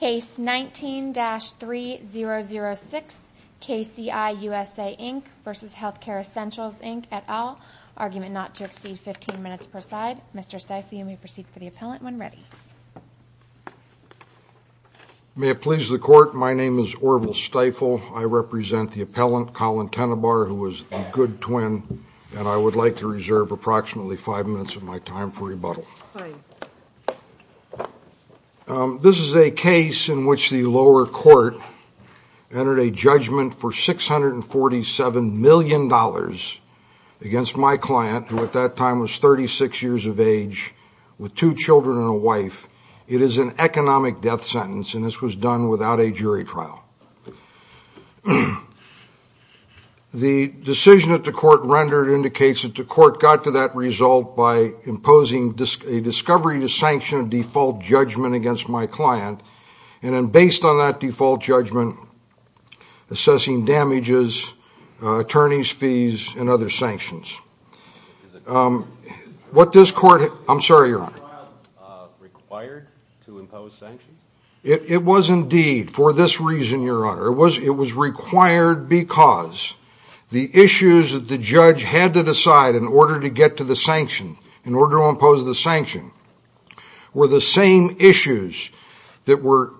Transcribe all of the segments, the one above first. Case 19-3006, KCI USA Inc v. Healthcare Essentials Inc, et al. Argument not to exceed 15 minutes per side. Mr. Stiefel, you may proceed for the appellant when ready. May it please the Court, my name is Orval Stiefel. I represent the appellant, Colin Tenenbaugh, who is the good twin, and I would like to reserve approximately five minutes of my time for rebuttal. Fine. This is a case in which the lower court entered a judgment for $647 million against my client, who at that time was 36 years of age, with two children and a wife. It is an economic death sentence, and this was done without a jury trial. The decision that the Court rendered indicates that the Court got to that result by imposing a discovery to sanction a default judgment against my client, and then based on that default judgment, assessing damages, attorneys' fees, and other sanctions. Is the trial required to impose sanctions? It was indeed for this reason, Your Honor. It was required because the issues that the judge had to decide in order to get to the sanction, in order to impose the sanction, were the same issues that were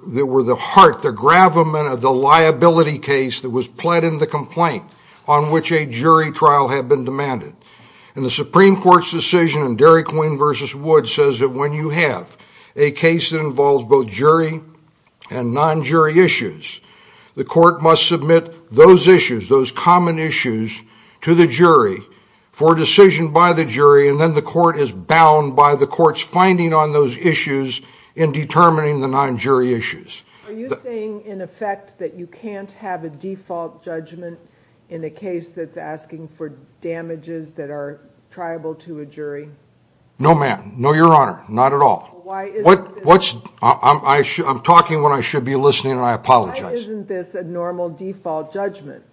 the heart, the gravamen of the liability case that was pled in the complaint on which a jury trial had been demanded. And the Supreme Court's decision in Derry, Queen v. Wood says that when you have a case that involves both jury and non-jury issues, the Court must submit those issues, those common issues, to the jury for decision by the jury, and then the Court is bound by the Court's finding on those issues in determining the non-jury issues. Are you saying, in effect, that you can't have a default judgment in a case that's asking for damages that are triable to a jury? No, ma'am. No, Your Honor. Not at all. Why isn't this... I'm talking when I should be listening, and I apologize. Why isn't this a normal default judgment?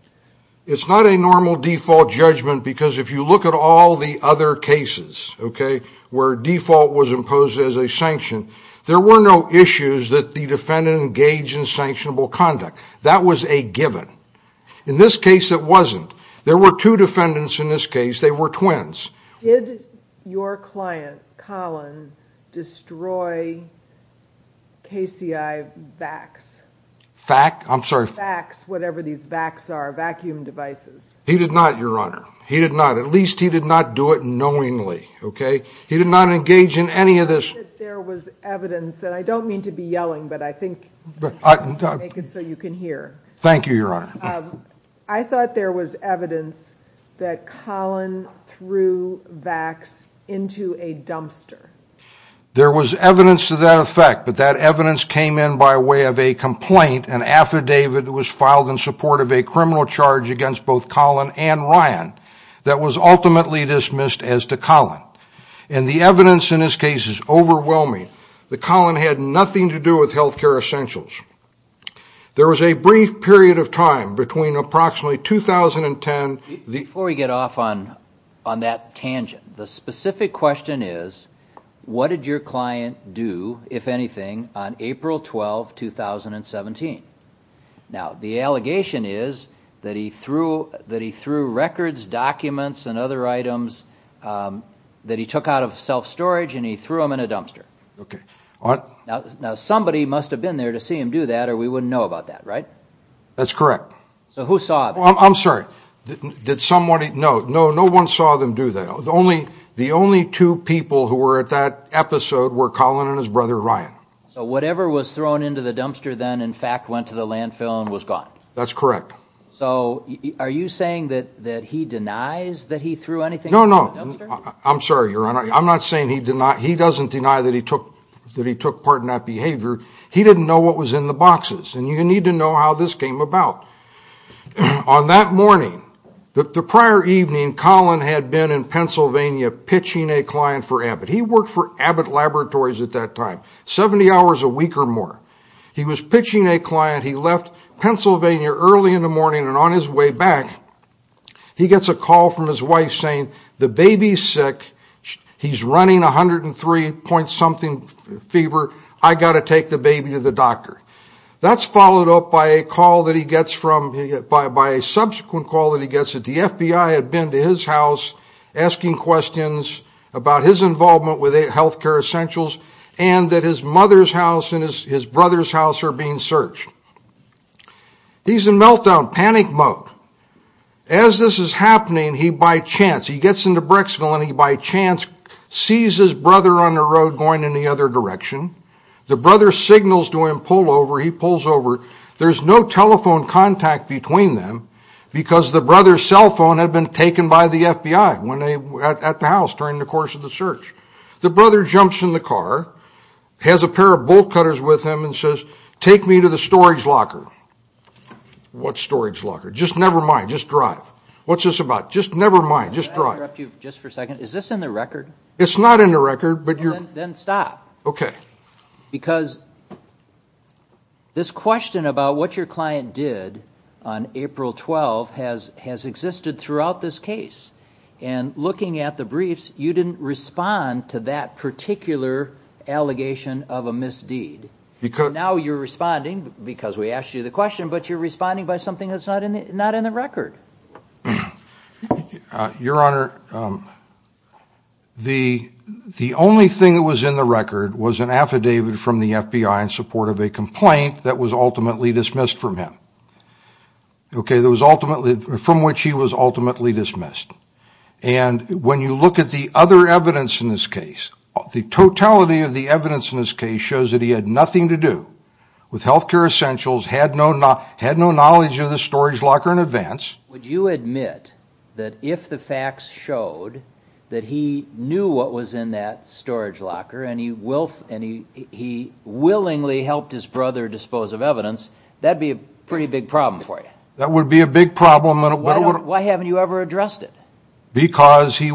It's not a normal default judgment because if you look at all the other cases, okay, where default was imposed as a sanction, there were no issues that the defendant engaged in sanctionable conduct. That was a given. In this case, it wasn't. There were two defendants in this case. They were twins. Did your client, Colin, destroy KCI vacs? Vac? I'm sorry? Vacs, whatever these vacs are, vacuum devices. He did not, Your Honor. He did not. At least he did not do it knowingly, okay? He did not engage in any of this. I thought that there was evidence, and I don't mean to be yelling, but I think I'll make it so you can hear. Thank you, Your Honor. I thought there was evidence that Colin threw vacs into a dumpster. There was evidence to that effect, but that evidence came in by way of a complaint, an affidavit that was filed in support of a criminal charge against both Colin and Ryan that was ultimately dismissed as to Colin. And the evidence in this case is overwhelming that Colin had nothing to do with health care essentials. There was a brief period of time between approximately 2010. Before we get off on that tangent, the specific question is, what did your client do, if anything, on April 12, 2017? Now, the allegation is that he threw records, documents, and other items that he took out of self-storage, and he threw them in a dumpster. Okay. Now, somebody must have been there to see him do that, or we wouldn't know about that, right? That's correct. So who saw him? I'm sorry. Did somebody? No, no one saw them do that. The only two people who were at that episode were Colin and his brother Ryan. So whatever was thrown into the dumpster then, in fact, went to the landfill and was gone? That's correct. So are you saying that he denies that he threw anything into the dumpster? No, no. I'm sorry, Your Honor. I'm not saying he doesn't deny that he took part in that behavior. He didn't know what was in the boxes, and you need to know how this came about. On that morning, the prior evening, Colin had been in Pennsylvania pitching a client for Abbott. He worked for Abbott Laboratories at that time, 70 hours a week or more. He was pitching a client. He left Pennsylvania early in the morning, and on his way back, he gets a call from his wife saying, The baby's sick. He's running 103-point-something fever. I've got to take the baby to the doctor. That's followed up by a subsequent call that he gets that the FBI had been to his house asking questions about his involvement with health care essentials and that his mother's house and his brother's house are being searched. He's in meltdown, panic mode. As this is happening, he, by chance, he gets into Brecksville, and he, by chance, sees his brother on the road going in the other direction. The brother signals to him, pull over. He pulls over. There's no telephone contact between them because the brother's cell phone had been taken by the FBI at the house during the course of the search. The brother jumps in the car, has a pair of bolt cutters with him, and says, Take me to the storage locker. What storage locker? Just never mind. Just drive. What's this about? Just never mind. Just drive. Is this in the record? It's not in the record, but you're Then stop. Okay. Because this question about what your client did on April 12th has existed throughout this case. And looking at the briefs, you didn't respond to that particular allegation of a misdeed. Now you're responding because we asked you the question, but you're responding by something that's not in the record. Your Honor, the only thing that was in the record was an affidavit from the FBI in support of a complaint that was ultimately dismissed from him, from which he was ultimately dismissed. And when you look at the other evidence in this case, the totality of the evidence in this case shows that he had nothing to do with health care essentials, had no knowledge of the storage locker in advance. Would you admit that if the facts showed that he knew what was in that storage locker and he willingly helped his brother dispose of evidence, that'd be a pretty big problem for you? That would be a big problem. Why haven't you ever addressed it? Because he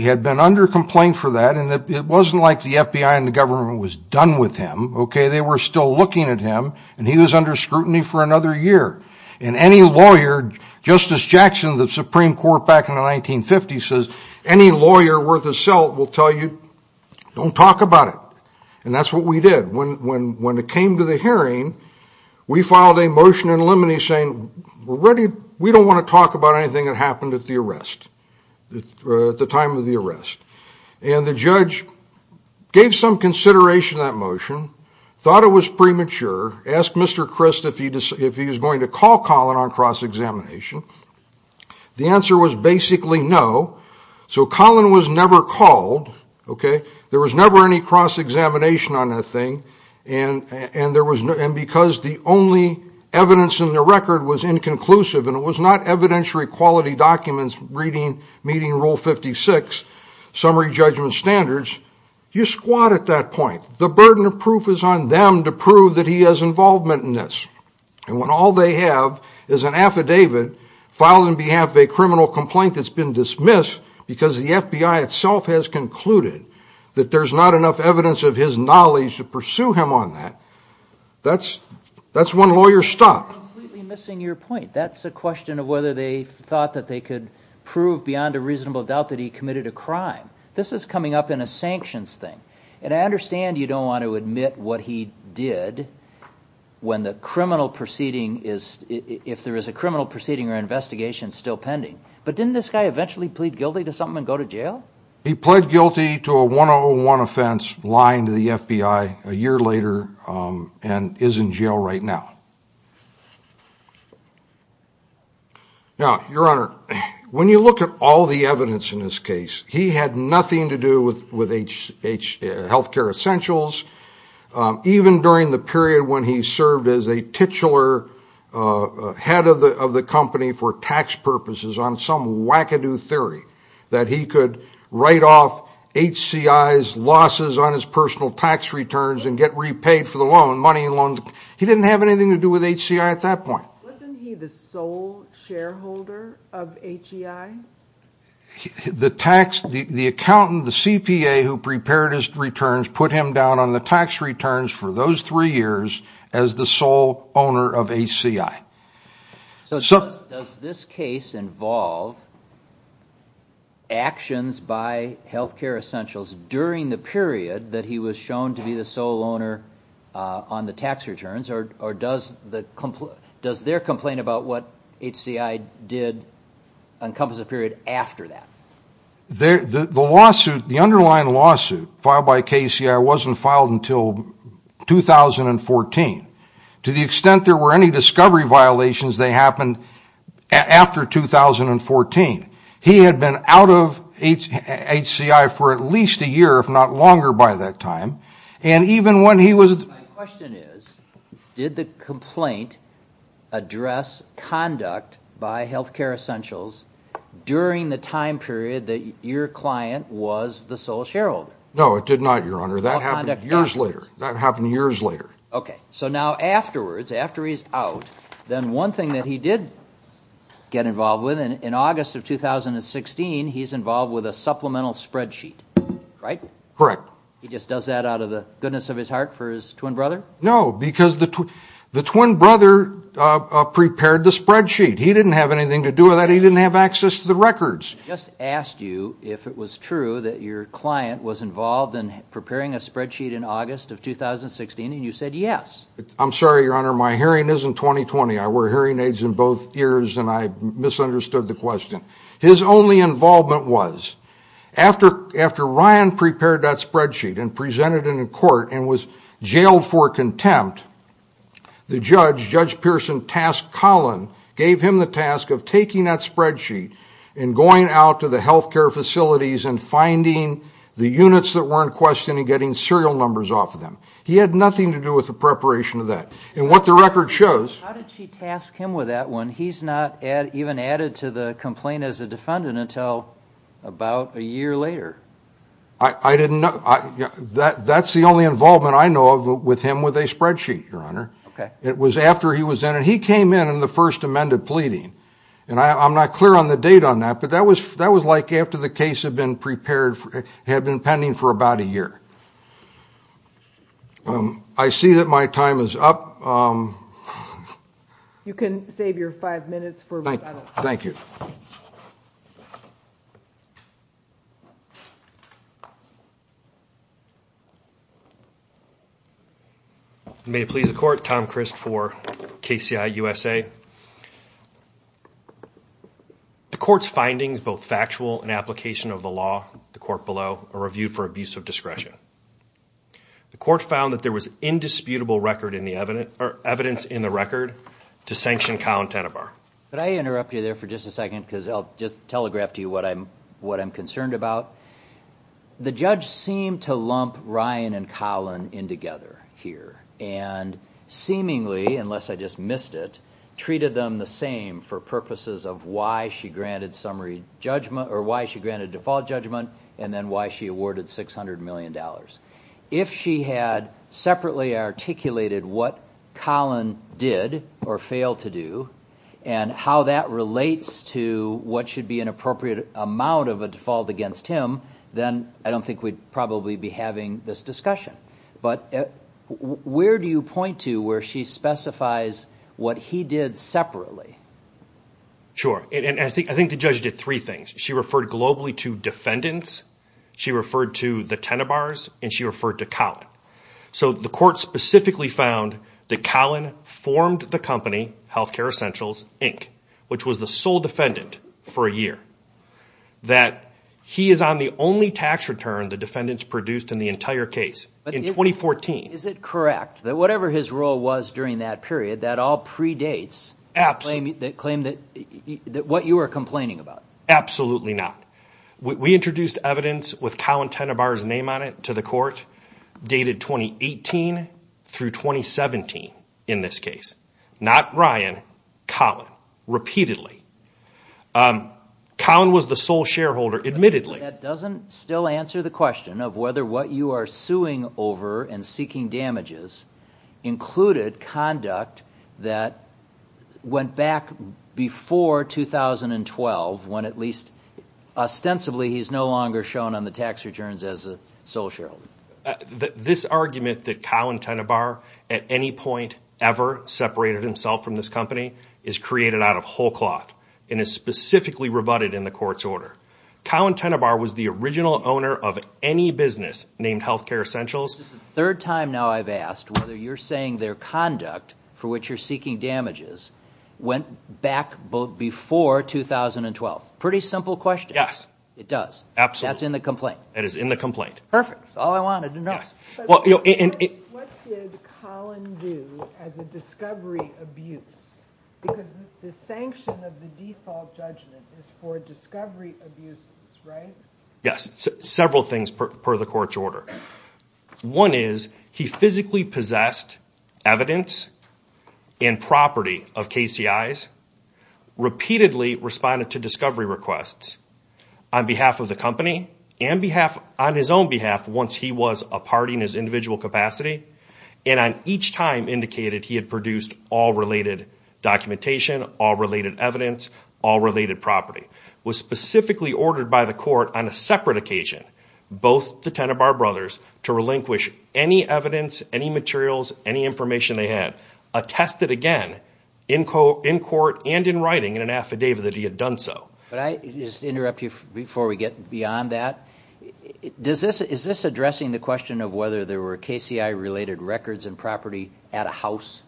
had been under complaint for that, and it wasn't like the FBI and the government was done with him. They were still looking at him, and he was under scrutiny for another year. And any lawyer, Justice Jackson of the Supreme Court back in the 1950s says, any lawyer worth his salt will tell you, don't talk about it. And that's what we did. When it came to the hearing, we filed a motion in limine saying, we don't want to talk about anything that happened at the time of the arrest. And the judge gave some consideration to that motion, thought it was premature, asked Mr. Crist if he was going to call Collin on cross-examination. The answer was basically no. So Collin was never called. There was never any cross-examination on the thing. And because the only evidence in the record was inconclusive, and it was not evidentiary quality documents reading meeting rule 56, summary judgment standards, you squat at that point. The burden of proof is on them to prove that he has involvement in this. And when all they have is an affidavit filed on behalf of a criminal complaint that's been dismissed because the FBI itself has concluded that there's not enough evidence of his knowledge to pursue him on that, that's one lawyer's stop. I'm completely missing your point. That's a question of whether they thought that they could prove beyond a reasonable doubt that he committed a crime. This is coming up in a sanctions thing. And I understand you don't want to admit what he did when the criminal proceeding is, if there is a criminal proceeding or investigation still pending. But didn't this guy eventually plead guilty to something and go to jail? He pled guilty to a 101 offense, lying to the FBI a year later, and is in jail right now. Now, Your Honor, when you look at all the evidence in this case, he had nothing to do with health care essentials, even during the period when he served as a titular head of the company for tax purposes on some wackadoo theory that he could write off HCI's losses on his personal tax returns and get repaid for the loan, money and loans. He didn't have anything to do with HCI at that point. Wasn't he the sole shareholder of HCI? The accountant, the CPA who prepared his returns, put him down on the tax returns for those three years as the sole owner of HCI. So does this case involve actions by health care essentials during the period that he was shown to be the sole owner on the tax returns, or does their complaint about what HCI did encompass a period after that? The underlying lawsuit filed by KCI wasn't filed until 2014. To the extent there were any discovery violations, they happened after 2014. He had been out of HCI for at least a year, if not longer by that time. My question is, did the complaint address conduct by health care essentials during the time period that your client was the sole shareholder? No, it did not, Your Honor. That happened years later. Okay. So now afterwards, after he's out, then one thing that he did get involved with, in August of 2016, he's involved with a supplemental spreadsheet, right? Correct. He just does that out of the goodness of his heart for his twin brother? No, because the twin brother prepared the spreadsheet. He didn't have anything to do with that. He didn't have access to the records. I just asked you if it was true that your client was involved in preparing a spreadsheet in August of 2016, and you said yes. I'm sorry, Your Honor, my hearing isn't 20-20. I wear hearing aids in both ears, and I misunderstood the question. His only involvement was, after Ryan prepared that spreadsheet and presented it in court and was jailed for contempt, the judge, Judge Pearson Task Collin, gave him the task of taking that spreadsheet and going out to the health care facilities and finding the units that weren't questioned and getting serial numbers off of them. He had nothing to do with the preparation of that. And what the record shows... How did she task him with that when he's not even added to the complaint as a defendant until about a year later? I didn't know. That's the only involvement I know of with him with a spreadsheet, Your Honor. Okay. It was after he was in, and he came in in the first amended pleading, and I'm not clear on the date on that, but that was like after the case had been prepared, had been pending for about a year. I see that my time is up. You can save your five minutes for rebuttal. Thank you. May it please the Court, Tom Christ for KCI USA. The Court's findings, both factual and application of the law, the Court below, are reviewed for abuse of discretion. The Court found that there was indisputable evidence in the record to sanction Collin Tenenbaugh. Could I interrupt you there for just a second because I'll just telegraph to you what I'm concerned about. The judge seemed to lump Ryan and Collin in together here, and seemingly, unless I just missed it, treated them the same for purposes of why she granted default judgment and then why she awarded $600 million. If she had separately articulated what Collin did or failed to do and how that relates to what should be an appropriate amount of a default against him, then I don't think we'd probably be having this discussion. But where do you point to where she specifies what he did separately? Sure, and I think the judge did three things. She referred globally to defendants, she referred to the Tenenbaughs, and she referred to Collin. So the Court specifically found that Collin formed the company, Healthcare Essentials, Inc., which was the sole defendant for a year, that he is on the only tax return the defendants produced in the entire case. In 2014. Is it correct that whatever his role was during that period, that all predates what you are complaining about? Absolutely not. We introduced evidence with Collin Tenenbaugh's name on it to the Court dated 2018 through 2017 in this case. Not Ryan, Collin, repeatedly. Collin was the sole shareholder, admittedly. That doesn't still answer the question of whether what you are suing over and seeking damages included conduct that went back before 2012, when at least ostensibly he's no longer shown on the tax returns as a sole shareholder. This argument that Collin Tenenbaugh at any point ever separated himself from this company is created out of whole cloth and is specifically rebutted in the Court's order. Collin Tenenbaugh was the original owner of any business named Healthcare Essentials. This is the third time now I've asked whether you're saying their conduct for which you're seeking damages went back before 2012. Pretty simple question. Yes. It does. Absolutely. That's in the complaint. That is in the complaint. Perfect. That's all I wanted to know. What did Collin do as a discovery abuse? Because the sanction of the default judgment is for discovery abuses, right? Yes. Several things per the Court's order. One is he physically possessed evidence and property of KCIs, repeatedly responded to discovery requests on behalf of the company and on his own behalf once he was a party in his individual capacity, and on each time indicated he had produced all related documentation, all related evidence, all related property. It was specifically ordered by the Court on a separate occasion, both the Tenenbaugh brothers, to relinquish any evidence, any materials, any information they had, attested again in court and in writing in an affidavit that he had done so. Could I just interrupt you before we get beyond that? Is this addressing the question of whether there were KCI-related records and property at a house?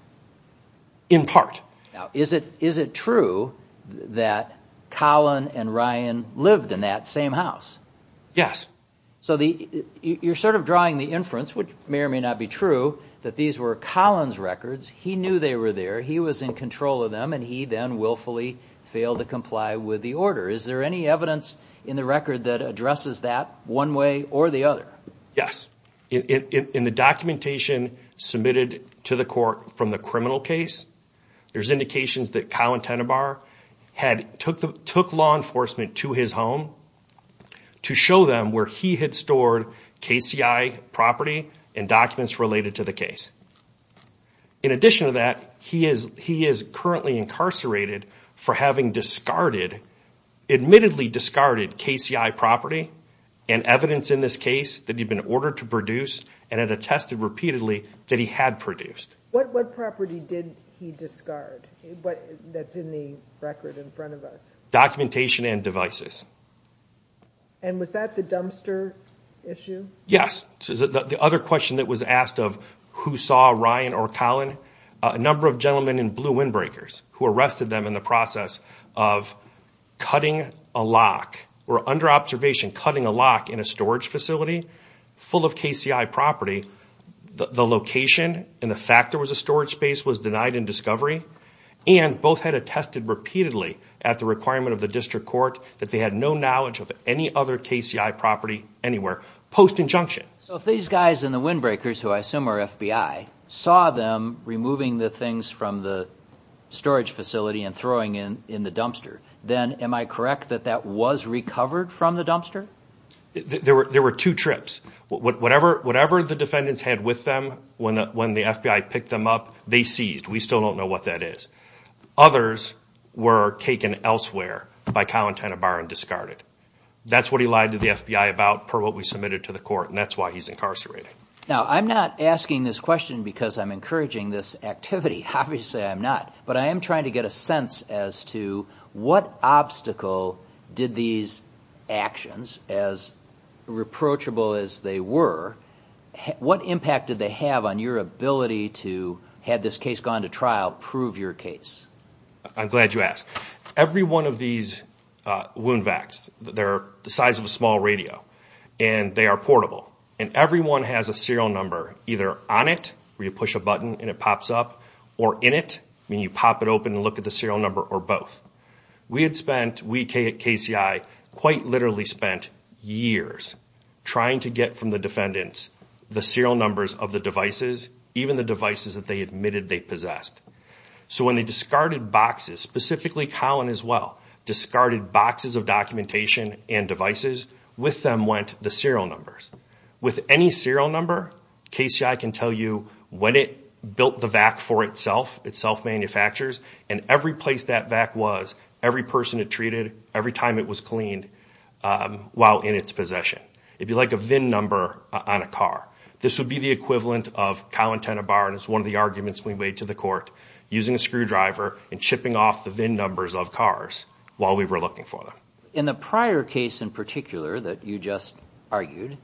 In part. Now, is it true that Collin and Ryan lived in that same house? Yes. So you're sort of drawing the inference, which may or may not be true, that these were Collin's records. He knew they were there. He was in control of them, and he then willfully failed to comply with the order. Is there any evidence in the record that addresses that one way or the other? Yes. In the documentation submitted to the court from the criminal case, there's indications that Collin Tenenbaugh took law enforcement to his home to show them where he had stored KCI property and documents related to the case. In addition to that, he is currently incarcerated for having discarded, admittedly discarded KCI property and evidence in this case that he had been ordered to produce and had attested repeatedly that he had produced. What property did he discard that's in the record in front of us? Documentation and devices. And was that the dumpster issue? Yes. The other question that was asked of who saw Ryan or Collin, a number of gentlemen in blue windbreakers who arrested them in the process of cutting a lock or under observation cutting a lock in a storage facility full of KCI property, the location and the fact there was a storage space was denied in discovery, and both had attested repeatedly at the requirement of the district court that they had no knowledge of any other KCI property anywhere post injunction. So if these guys in the windbreakers, who I assume are FBI, saw them removing the things from the storage facility and throwing them in the dumpster, then am I correct that that was recovered from the dumpster? There were two trips. Whatever the defendants had with them when the FBI picked them up, they seized. We still don't know what that is. Others were taken elsewhere by Collin Tenenbaum and discarded. That's what he lied to the FBI about per what we submitted to the court, and that's why he's incarcerated. Now, I'm not asking this question because I'm encouraging this activity. Obviously I'm not. But I am trying to get a sense as to what obstacle did these actions, as reproachable as they were, what impact did they have on your ability to, had this case gone to trial, prove your case? I'm glad you asked. Every one of these wound vacs, they're the size of a small radio, and they are portable. And every one has a serial number either on it, where you push a button and it pops up, or in it, when you pop it open and look at the serial number, or both. We had spent, we at KCI, quite literally spent years trying to get from the defendants the serial numbers of the devices, even the devices that they admitted they possessed. So when they discarded boxes, specifically Collin as well, discarded boxes of documentation and devices, with them went the serial numbers. With any serial number, KCI can tell you when it built the vac for itself, it self-manufactures, and every place that vac was, every person it treated, every time it was cleaned, while in its possession. It'd be like a VIN number on a car. This would be the equivalent of Collin Tenenbaum, and it's one of the arguments we made to the court, using a screwdriver and chipping off the VIN numbers of cars while we were looking for them. In the prior case in particular that you just argued,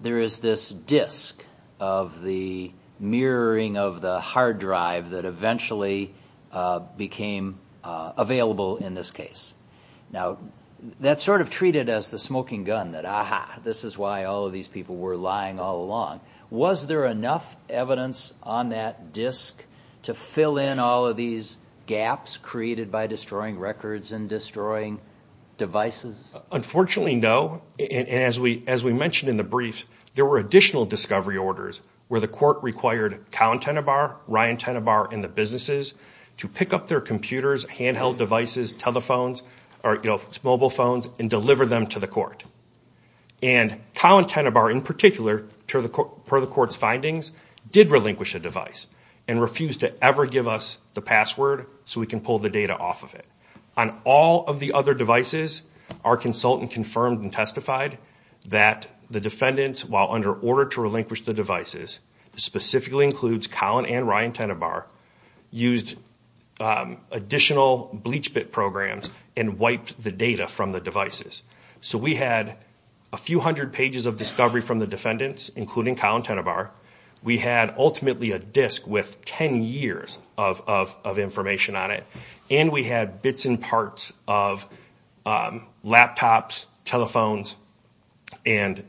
there is this disk of the mirroring of the hard drive that eventually became available in this case. Now, that's sort of treated as the smoking gun, that aha, this is why all of these people were lying all along. Was there enough evidence on that disk to fill in all of these gaps created by destroying records and destroying devices? Unfortunately, no. As we mentioned in the brief, there were additional discovery orders where the court required Collin Tenenbaum, Ryan Tenenbaum, and the businesses to pick up their computers, handheld devices, telephones, mobile phones, and deliver them to the court. Collin Tenenbaum, in particular, per the court's findings, did relinquish a device and refused to ever give us the password so we can pull the data off of it. On all of the other devices, our consultant confirmed and testified that the defendants, while under order to relinquish the devices, this specifically includes Collin and Ryan Tenenbaum, used additional bleach bit programs and wiped the data from the devices. So we had a few hundred pages of discovery from the defendants, including Collin Tenenbaum. We had ultimately a disk with 10 years of information on it, and we had bits and parts of laptops, telephones, and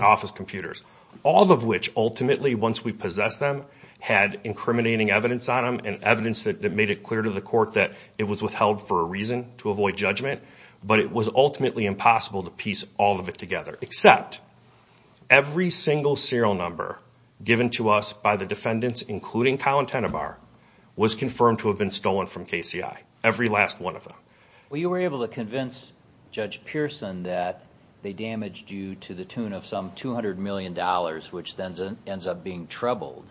office computers, all of which ultimately, once we possessed them, had incriminating evidence on them and evidence that made it clear to the court that it was withheld for a reason, to avoid judgment, but it was ultimately impossible to piece all of it together, except every single serial number given to us by the defendants, including Collin Tenenbaum, was confirmed to have been stolen from KCI, every last one of them. Well, you were able to convince Judge Pearson that they damaged you to the tune of some $200 million, which then ends up being troubled.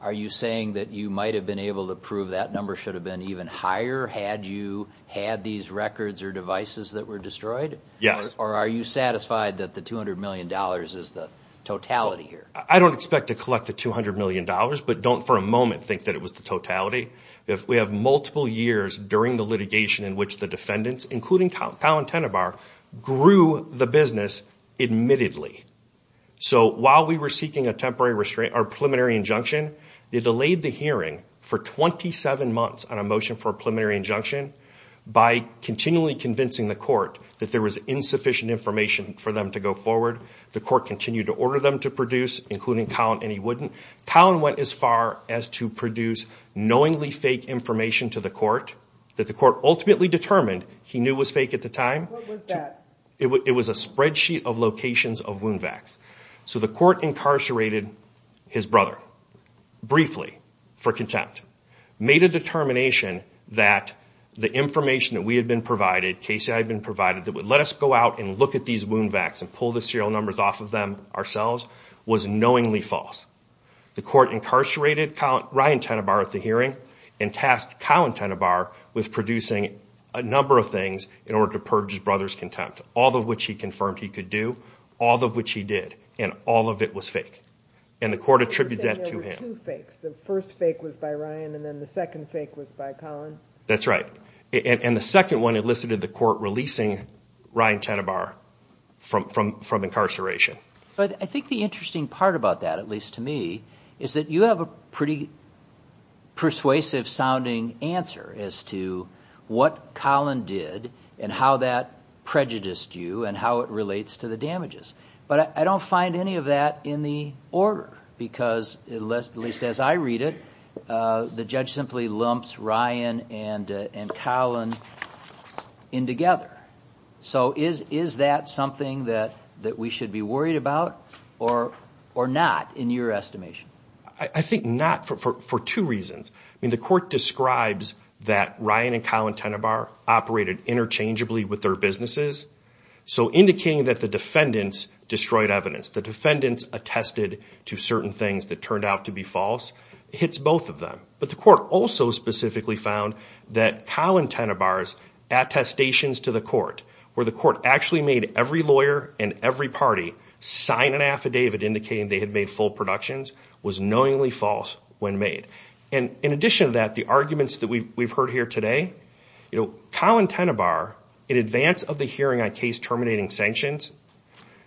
Are you saying that you might have been able to prove that number should have been even higher had you had these records or devices that were destroyed? Yes. Or are you satisfied that the $200 million is the totality here? I don't expect to collect the $200 million, but don't for a moment think that it was the totality. We have multiple years during the litigation in which the defendants, including Collin Tenenbaum, grew the business admittedly. So while we were seeking a preliminary injunction, they delayed the hearing for 27 months on a motion for a preliminary injunction by continually convincing the court that there was insufficient information for them to go forward. The court continued to order them to produce, including Collin, and he wouldn't. Collin went as far as to produce knowingly fake information to the court that the court ultimately determined he knew was fake at the time. What was that? It was a spreadsheet of locations of wound vacs. So the court incarcerated his brother briefly for contempt, made a determination that the information that we had been provided, KCI had been provided, that would let us go out and look at these wound vacs and pull the serial numbers off of them ourselves, was knowingly false. The court incarcerated Ryan Tenenbaum at the hearing and tasked Collin Tenenbaum with producing a number of things in order to purge his brother's contempt, all of which he confirmed he could do, all of which he did, and all of it was fake. And the court attributed that to him. You said there were two fakes. The first fake was by Ryan and then the second fake was by Collin? That's right. And the second one elicited the court releasing Ryan Tenenbaum from incarceration. But I think the interesting part about that, at least to me, is that you have a pretty persuasive-sounding answer as to what Collin did and how that prejudiced you and how it relates to the damages. But I don't find any of that in the order because, at least as I read it, the judge simply lumps Ryan and Collin in together. So is that something that we should be worried about or not, in your estimation? I think not for two reasons. I mean, the court describes that Ryan and Collin Tenenbaum operated interchangeably with their businesses, so indicating that the defendants destroyed evidence, the defendants attested to certain things that turned out to be false, hits both of them. But the court also specifically found that Collin Tenenbaum's attestations to the court, where the court actually made every lawyer and every party sign an affidavit indicating they had made full productions, was knowingly false when made. And in addition to that, the arguments that we've heard here today, Collin Tenenbaum, in advance of the hearing on case terminating sanctions,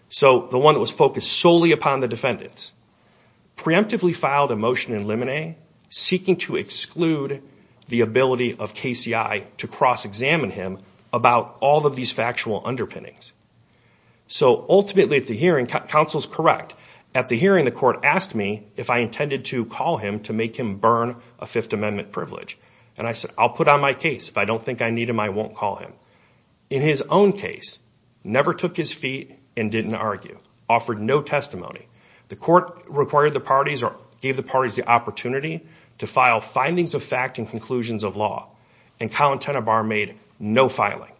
so the one that was focused solely upon the defendants, preemptively filed a motion in limine, seeking to exclude the ability of KCI to cross-examine him about all of these factual underpinnings. So ultimately, at the hearing, counsel's correct. At the hearing, the court asked me if I intended to call him to make him burn a Fifth Amendment privilege. And I said, I'll put on my case. If I don't think I need him, I won't call him. In his own case, never took his feet and didn't argue, offered no testimony. The court required the parties or gave the parties the opportunity to file findings of fact and conclusions of law. And Collin Tenenbaum made no filing.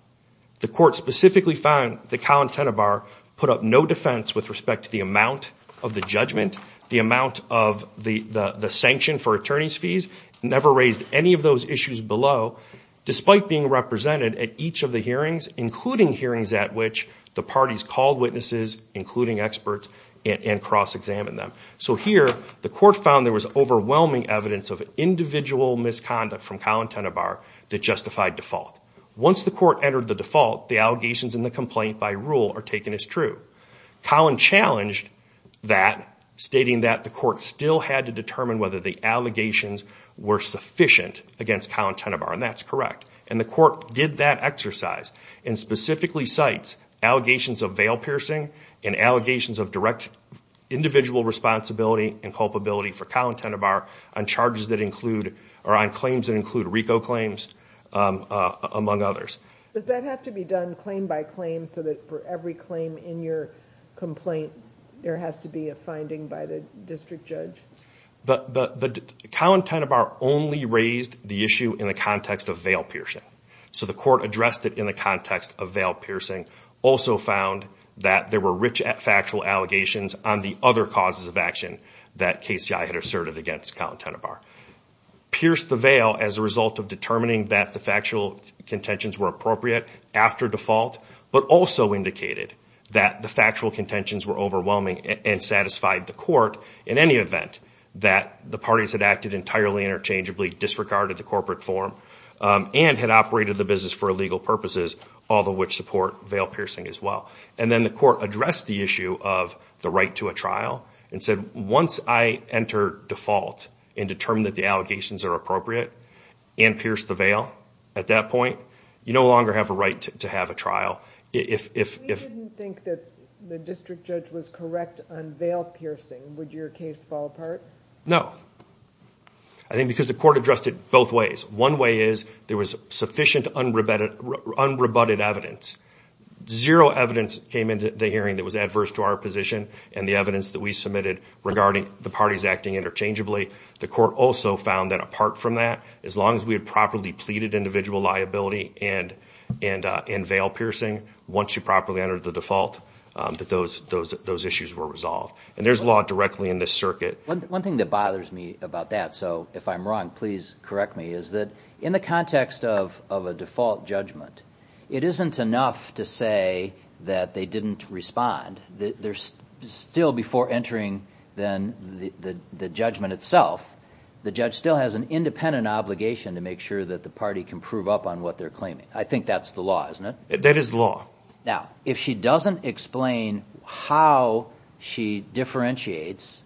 The court specifically found that Collin Tenenbaum put up no defense with respect to the amount of the judgment, the amount of the sanction for attorney's fees, never raised any of those issues below, despite being represented at each of the hearings, including hearings at which the parties called witnesses, including experts, and cross-examined them. So here, the court found there was overwhelming evidence of individual misconduct from Collin Tenenbaum that justified default. Once the court entered the default, the allegations in the complaint by rule are taken as true. Collin challenged that, stating that the court still had to determine whether the allegations were sufficient against Collin Tenenbaum. And that's correct. And the court did that exercise and specifically cites allegations of veil piercing and allegations of direct individual responsibility and culpability for Collin Tenenbaum on charges that include, or on claims that include RICO claims, among others. Does that have to be done claim by claim so that for every claim in your complaint, there has to be a finding by the district judge? Collin Tenenbaum only raised the issue in the context of veil piercing. So the court addressed it in the context of veil piercing. Also found that there were rich factual allegations on the other causes of action that KCI had asserted against Collin Tenenbaum. Pierced the veil as a result of determining that the factual contentions were appropriate after default, but also indicated that the factual contentions were overwhelming and satisfied the court in any event that the parties had acted entirely interchangeably, disregarded the corporate form, and had operated the business for illegal purposes, all of which support veil piercing as well. And then the court addressed the issue of the right to a trial and said, once I enter default and determine that the allegations are appropriate and pierce the veil at that point, you no longer have a right to have a trial. If you didn't think that the district judge was correct on veil piercing, would your case fall apart? No. I think because the court addressed it both ways. One way is there was sufficient unrebutted evidence. Zero evidence came into the hearing that was adverse to our position and the evidence that we submitted regarding the parties acting interchangeably. The court also found that apart from that, as long as we had properly pleaded individual liability and veil piercing, once you properly entered the default, that those issues were resolved. And there's law directly in this circuit. One thing that bothers me about that, so if I'm wrong, please correct me, is that in the context of a default judgment, it isn't enough to say that they didn't respond. Still before entering the judgment itself, the judge still has an independent obligation to make sure that the party can prove up on what they're claiming. I think that's the law, isn't it? That is the law. Now, if she doesn't explain how she differentiates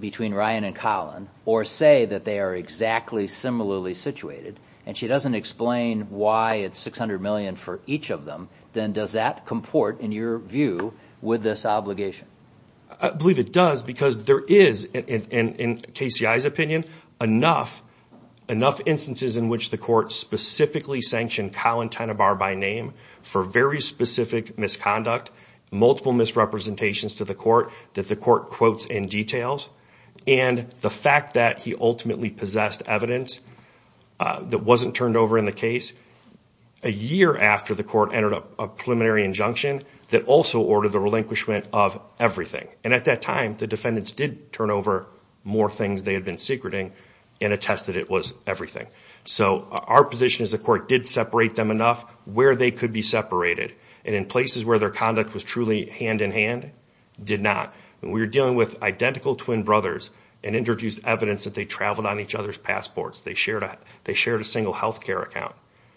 between Ryan and Colin or say that they are exactly similarly situated, and she doesn't explain why it's $600 million for each of them, then does that comport, in your view, with this obligation? I believe it does because there is, in KCI's opinion, enough instances in which the court specifically sanctioned Colin Tenenbaugh by name for very specific misconduct, multiple misrepresentations to the court that the court quotes in details, and the fact that he ultimately possessed evidence that wasn't turned over in the case a year after the court entered a preliminary injunction that also ordered the relinquishment of everything. And at that time, the defendants did turn over more things they had been secreting and attested it was everything. So our position is the court did separate them enough where they could be separated, and in places where their conduct was truly hand-in-hand, did not. When we were dealing with identical twin brothers and introduced evidence that they traveled on each other's passports, they shared a single health care account,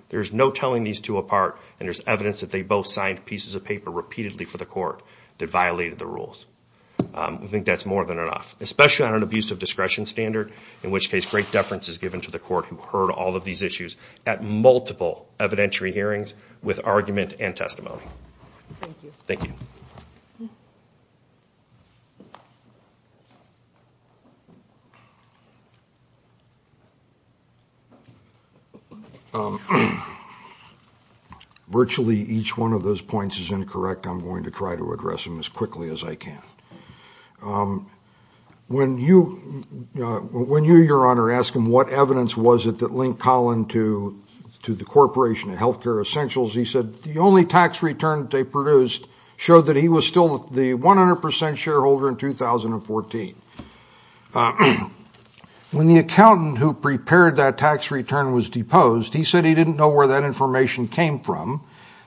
there's no telling these two apart, and there's evidence that they both signed pieces of paper repeatedly for the court that violated the rules. I think that's more than enough, especially on an abusive discretion standard, in which case great deference is given to the court who heard all of these issues Thank you. Virtually each one of those points is incorrect. I'm going to try to address them as quickly as I can. When you, Your Honor, asked him what evidence was it that linked Collin to the Corporation of Health Care Essentials, he said the only tax return they produced showed that he was still the 100% shareholder in 2014. When the accountant who prepared that tax return was deposed, he said he didn't know where that information came from.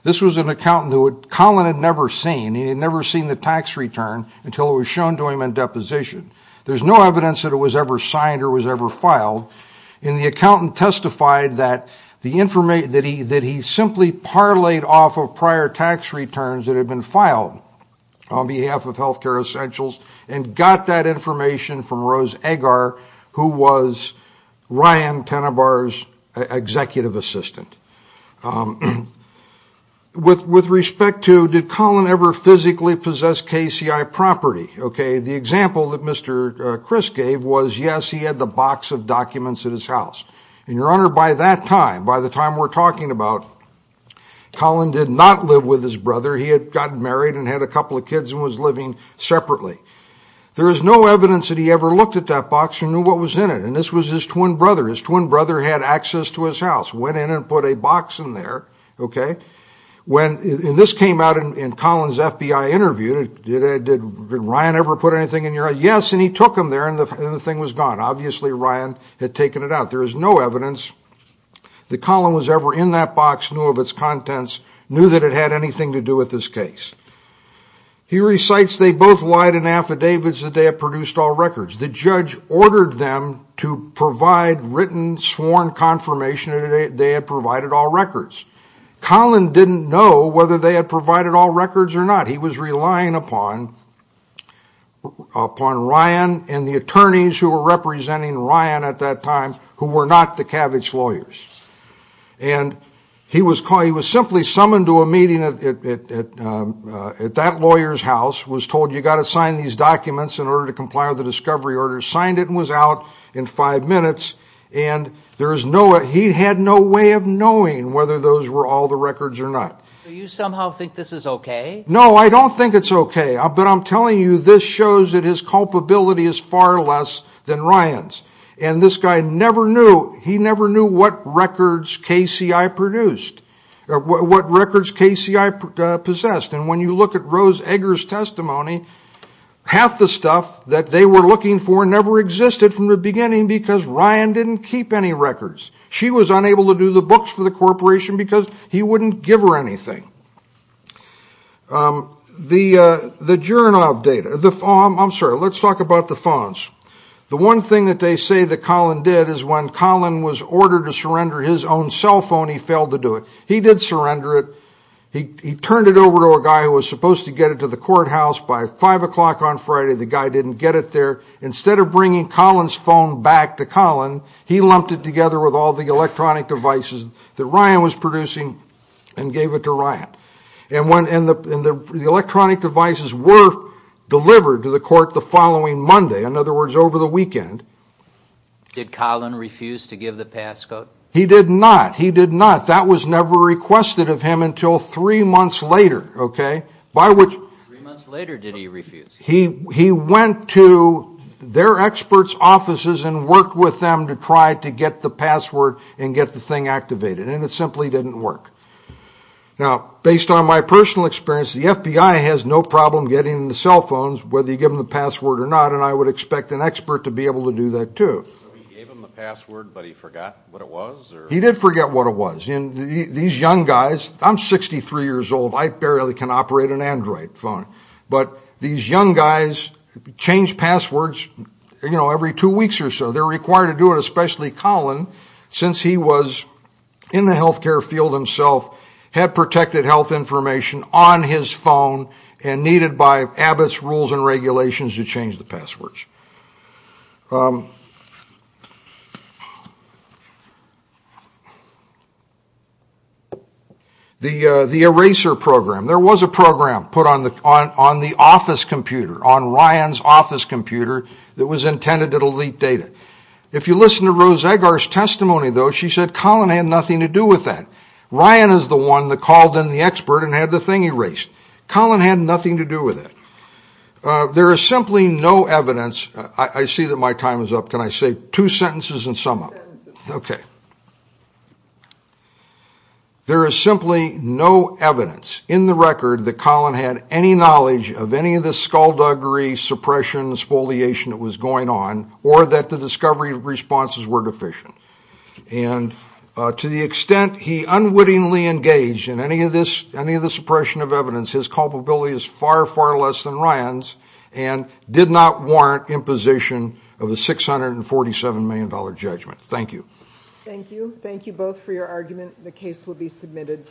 This was an accountant who Collin had never seen. He had never seen the tax return until it was shown to him in deposition. There's no evidence that it was ever signed or was ever filed, and the accountant testified that he simply parlayed off of prior tax returns that had been filed on behalf of Health Care Essentials and got that information from Rose Agar, who was Ryan Tenenbaugh's executive assistant. With respect to did Collin ever physically possess KCI property, the example that Mr. Criss gave was, yes, he had the box of documents at his house. And, Your Honor, by that time, by the time we're talking about, Collin did not live with his brother. He had gotten married and had a couple of kids and was living separately. There is no evidence that he ever looked at that box and knew what was in it, and this was his twin brother. His twin brother had access to his house, went in and put a box in there. This came out in Collin's FBI interview. Did Ryan ever put anything in there? Yes, and he took them there and the thing was gone. Obviously, Ryan had taken it out. There is no evidence that Collin was ever in that box, knew of its contents, knew that it had anything to do with this case. He recites, they both lied in affidavits that they had produced all records. The judge ordered them to provide written, sworn confirmation that they had provided all records. Collin didn't know whether they had provided all records or not. He was relying upon Ryan and the attorneys who were representing Ryan at that time who were not the Kavich lawyers. And he was simply summoned to a meeting at that lawyer's house, was told, you've got to sign these documents in order to comply with the discovery order, signed it and was out in five minutes. He had no way of knowing whether those were all the records or not. Do you somehow think this is okay? No, I don't think it's okay. But I'm telling you, this shows that his culpability is far less than Ryan's. And this guy never knew, he never knew what records KCI produced, what records KCI possessed. And when you look at Rose Eggers' testimony, half the stuff that they were looking for never existed from the beginning because Ryan didn't keep any records. She was unable to do the books for the corporation because he wouldn't give her anything. The Jernov data, I'm sorry, let's talk about the phones. The one thing that they say that Collin did is when Collin was ordered to surrender his own cell phone, he failed to do it. He did surrender it. He turned it over to a guy who was supposed to get it to the courthouse. By 5 o'clock on Friday, the guy didn't get it there. Instead of bringing Collin's phone back to Collin, he lumped it together with all the electronic devices that Ryan was producing and gave it to Ryan. And the electronic devices were delivered to the court the following Monday, in other words, over the weekend. Did Collin refuse to give the passcode? He did not. He did not. That was never requested of him until three months later. Three months later, did he refuse? He went to their experts' offices and worked with them to try to get the password and get the thing activated, and it simply didn't work. Now, based on my personal experience, the FBI has no problem getting the cell phones, whether you give them the password or not, and I would expect an expert to be able to do that too. So he gave them the password, but he forgot what it was? He did forget what it was. These young guys, I'm 63 years old, I barely can operate an Android phone, but these young guys change passwords every two weeks or so. They're required to do it, especially Collin, since he was in the health care field himself, had protected health information on his phone, and needed by Abbott's rules and regulations to change the passwords. The eraser program. There was a program put on the office computer, on Ryan's office computer, that was intended to delete data. If you listen to Rose Agar's testimony, though, she said Collin had nothing to do with that. Ryan is the one that called in the expert and had the thing erased. Collin had nothing to do with it. There is simply no evidence. I see that my time is up. Can I say two sentences and sum up? Two sentences. Okay. There is simply no evidence in the record that Collin had any knowledge of any of this skullduggery, suppression, spoliation that was going on, or that the discovery responses were deficient. And to the extent he unwittingly engaged in any of this suppression of evidence, his culpability is far, far less than Ryan's and did not warrant imposition of a $647 million judgment. Thank you. Thank you. Thank you both for your argument. The case will be submitted.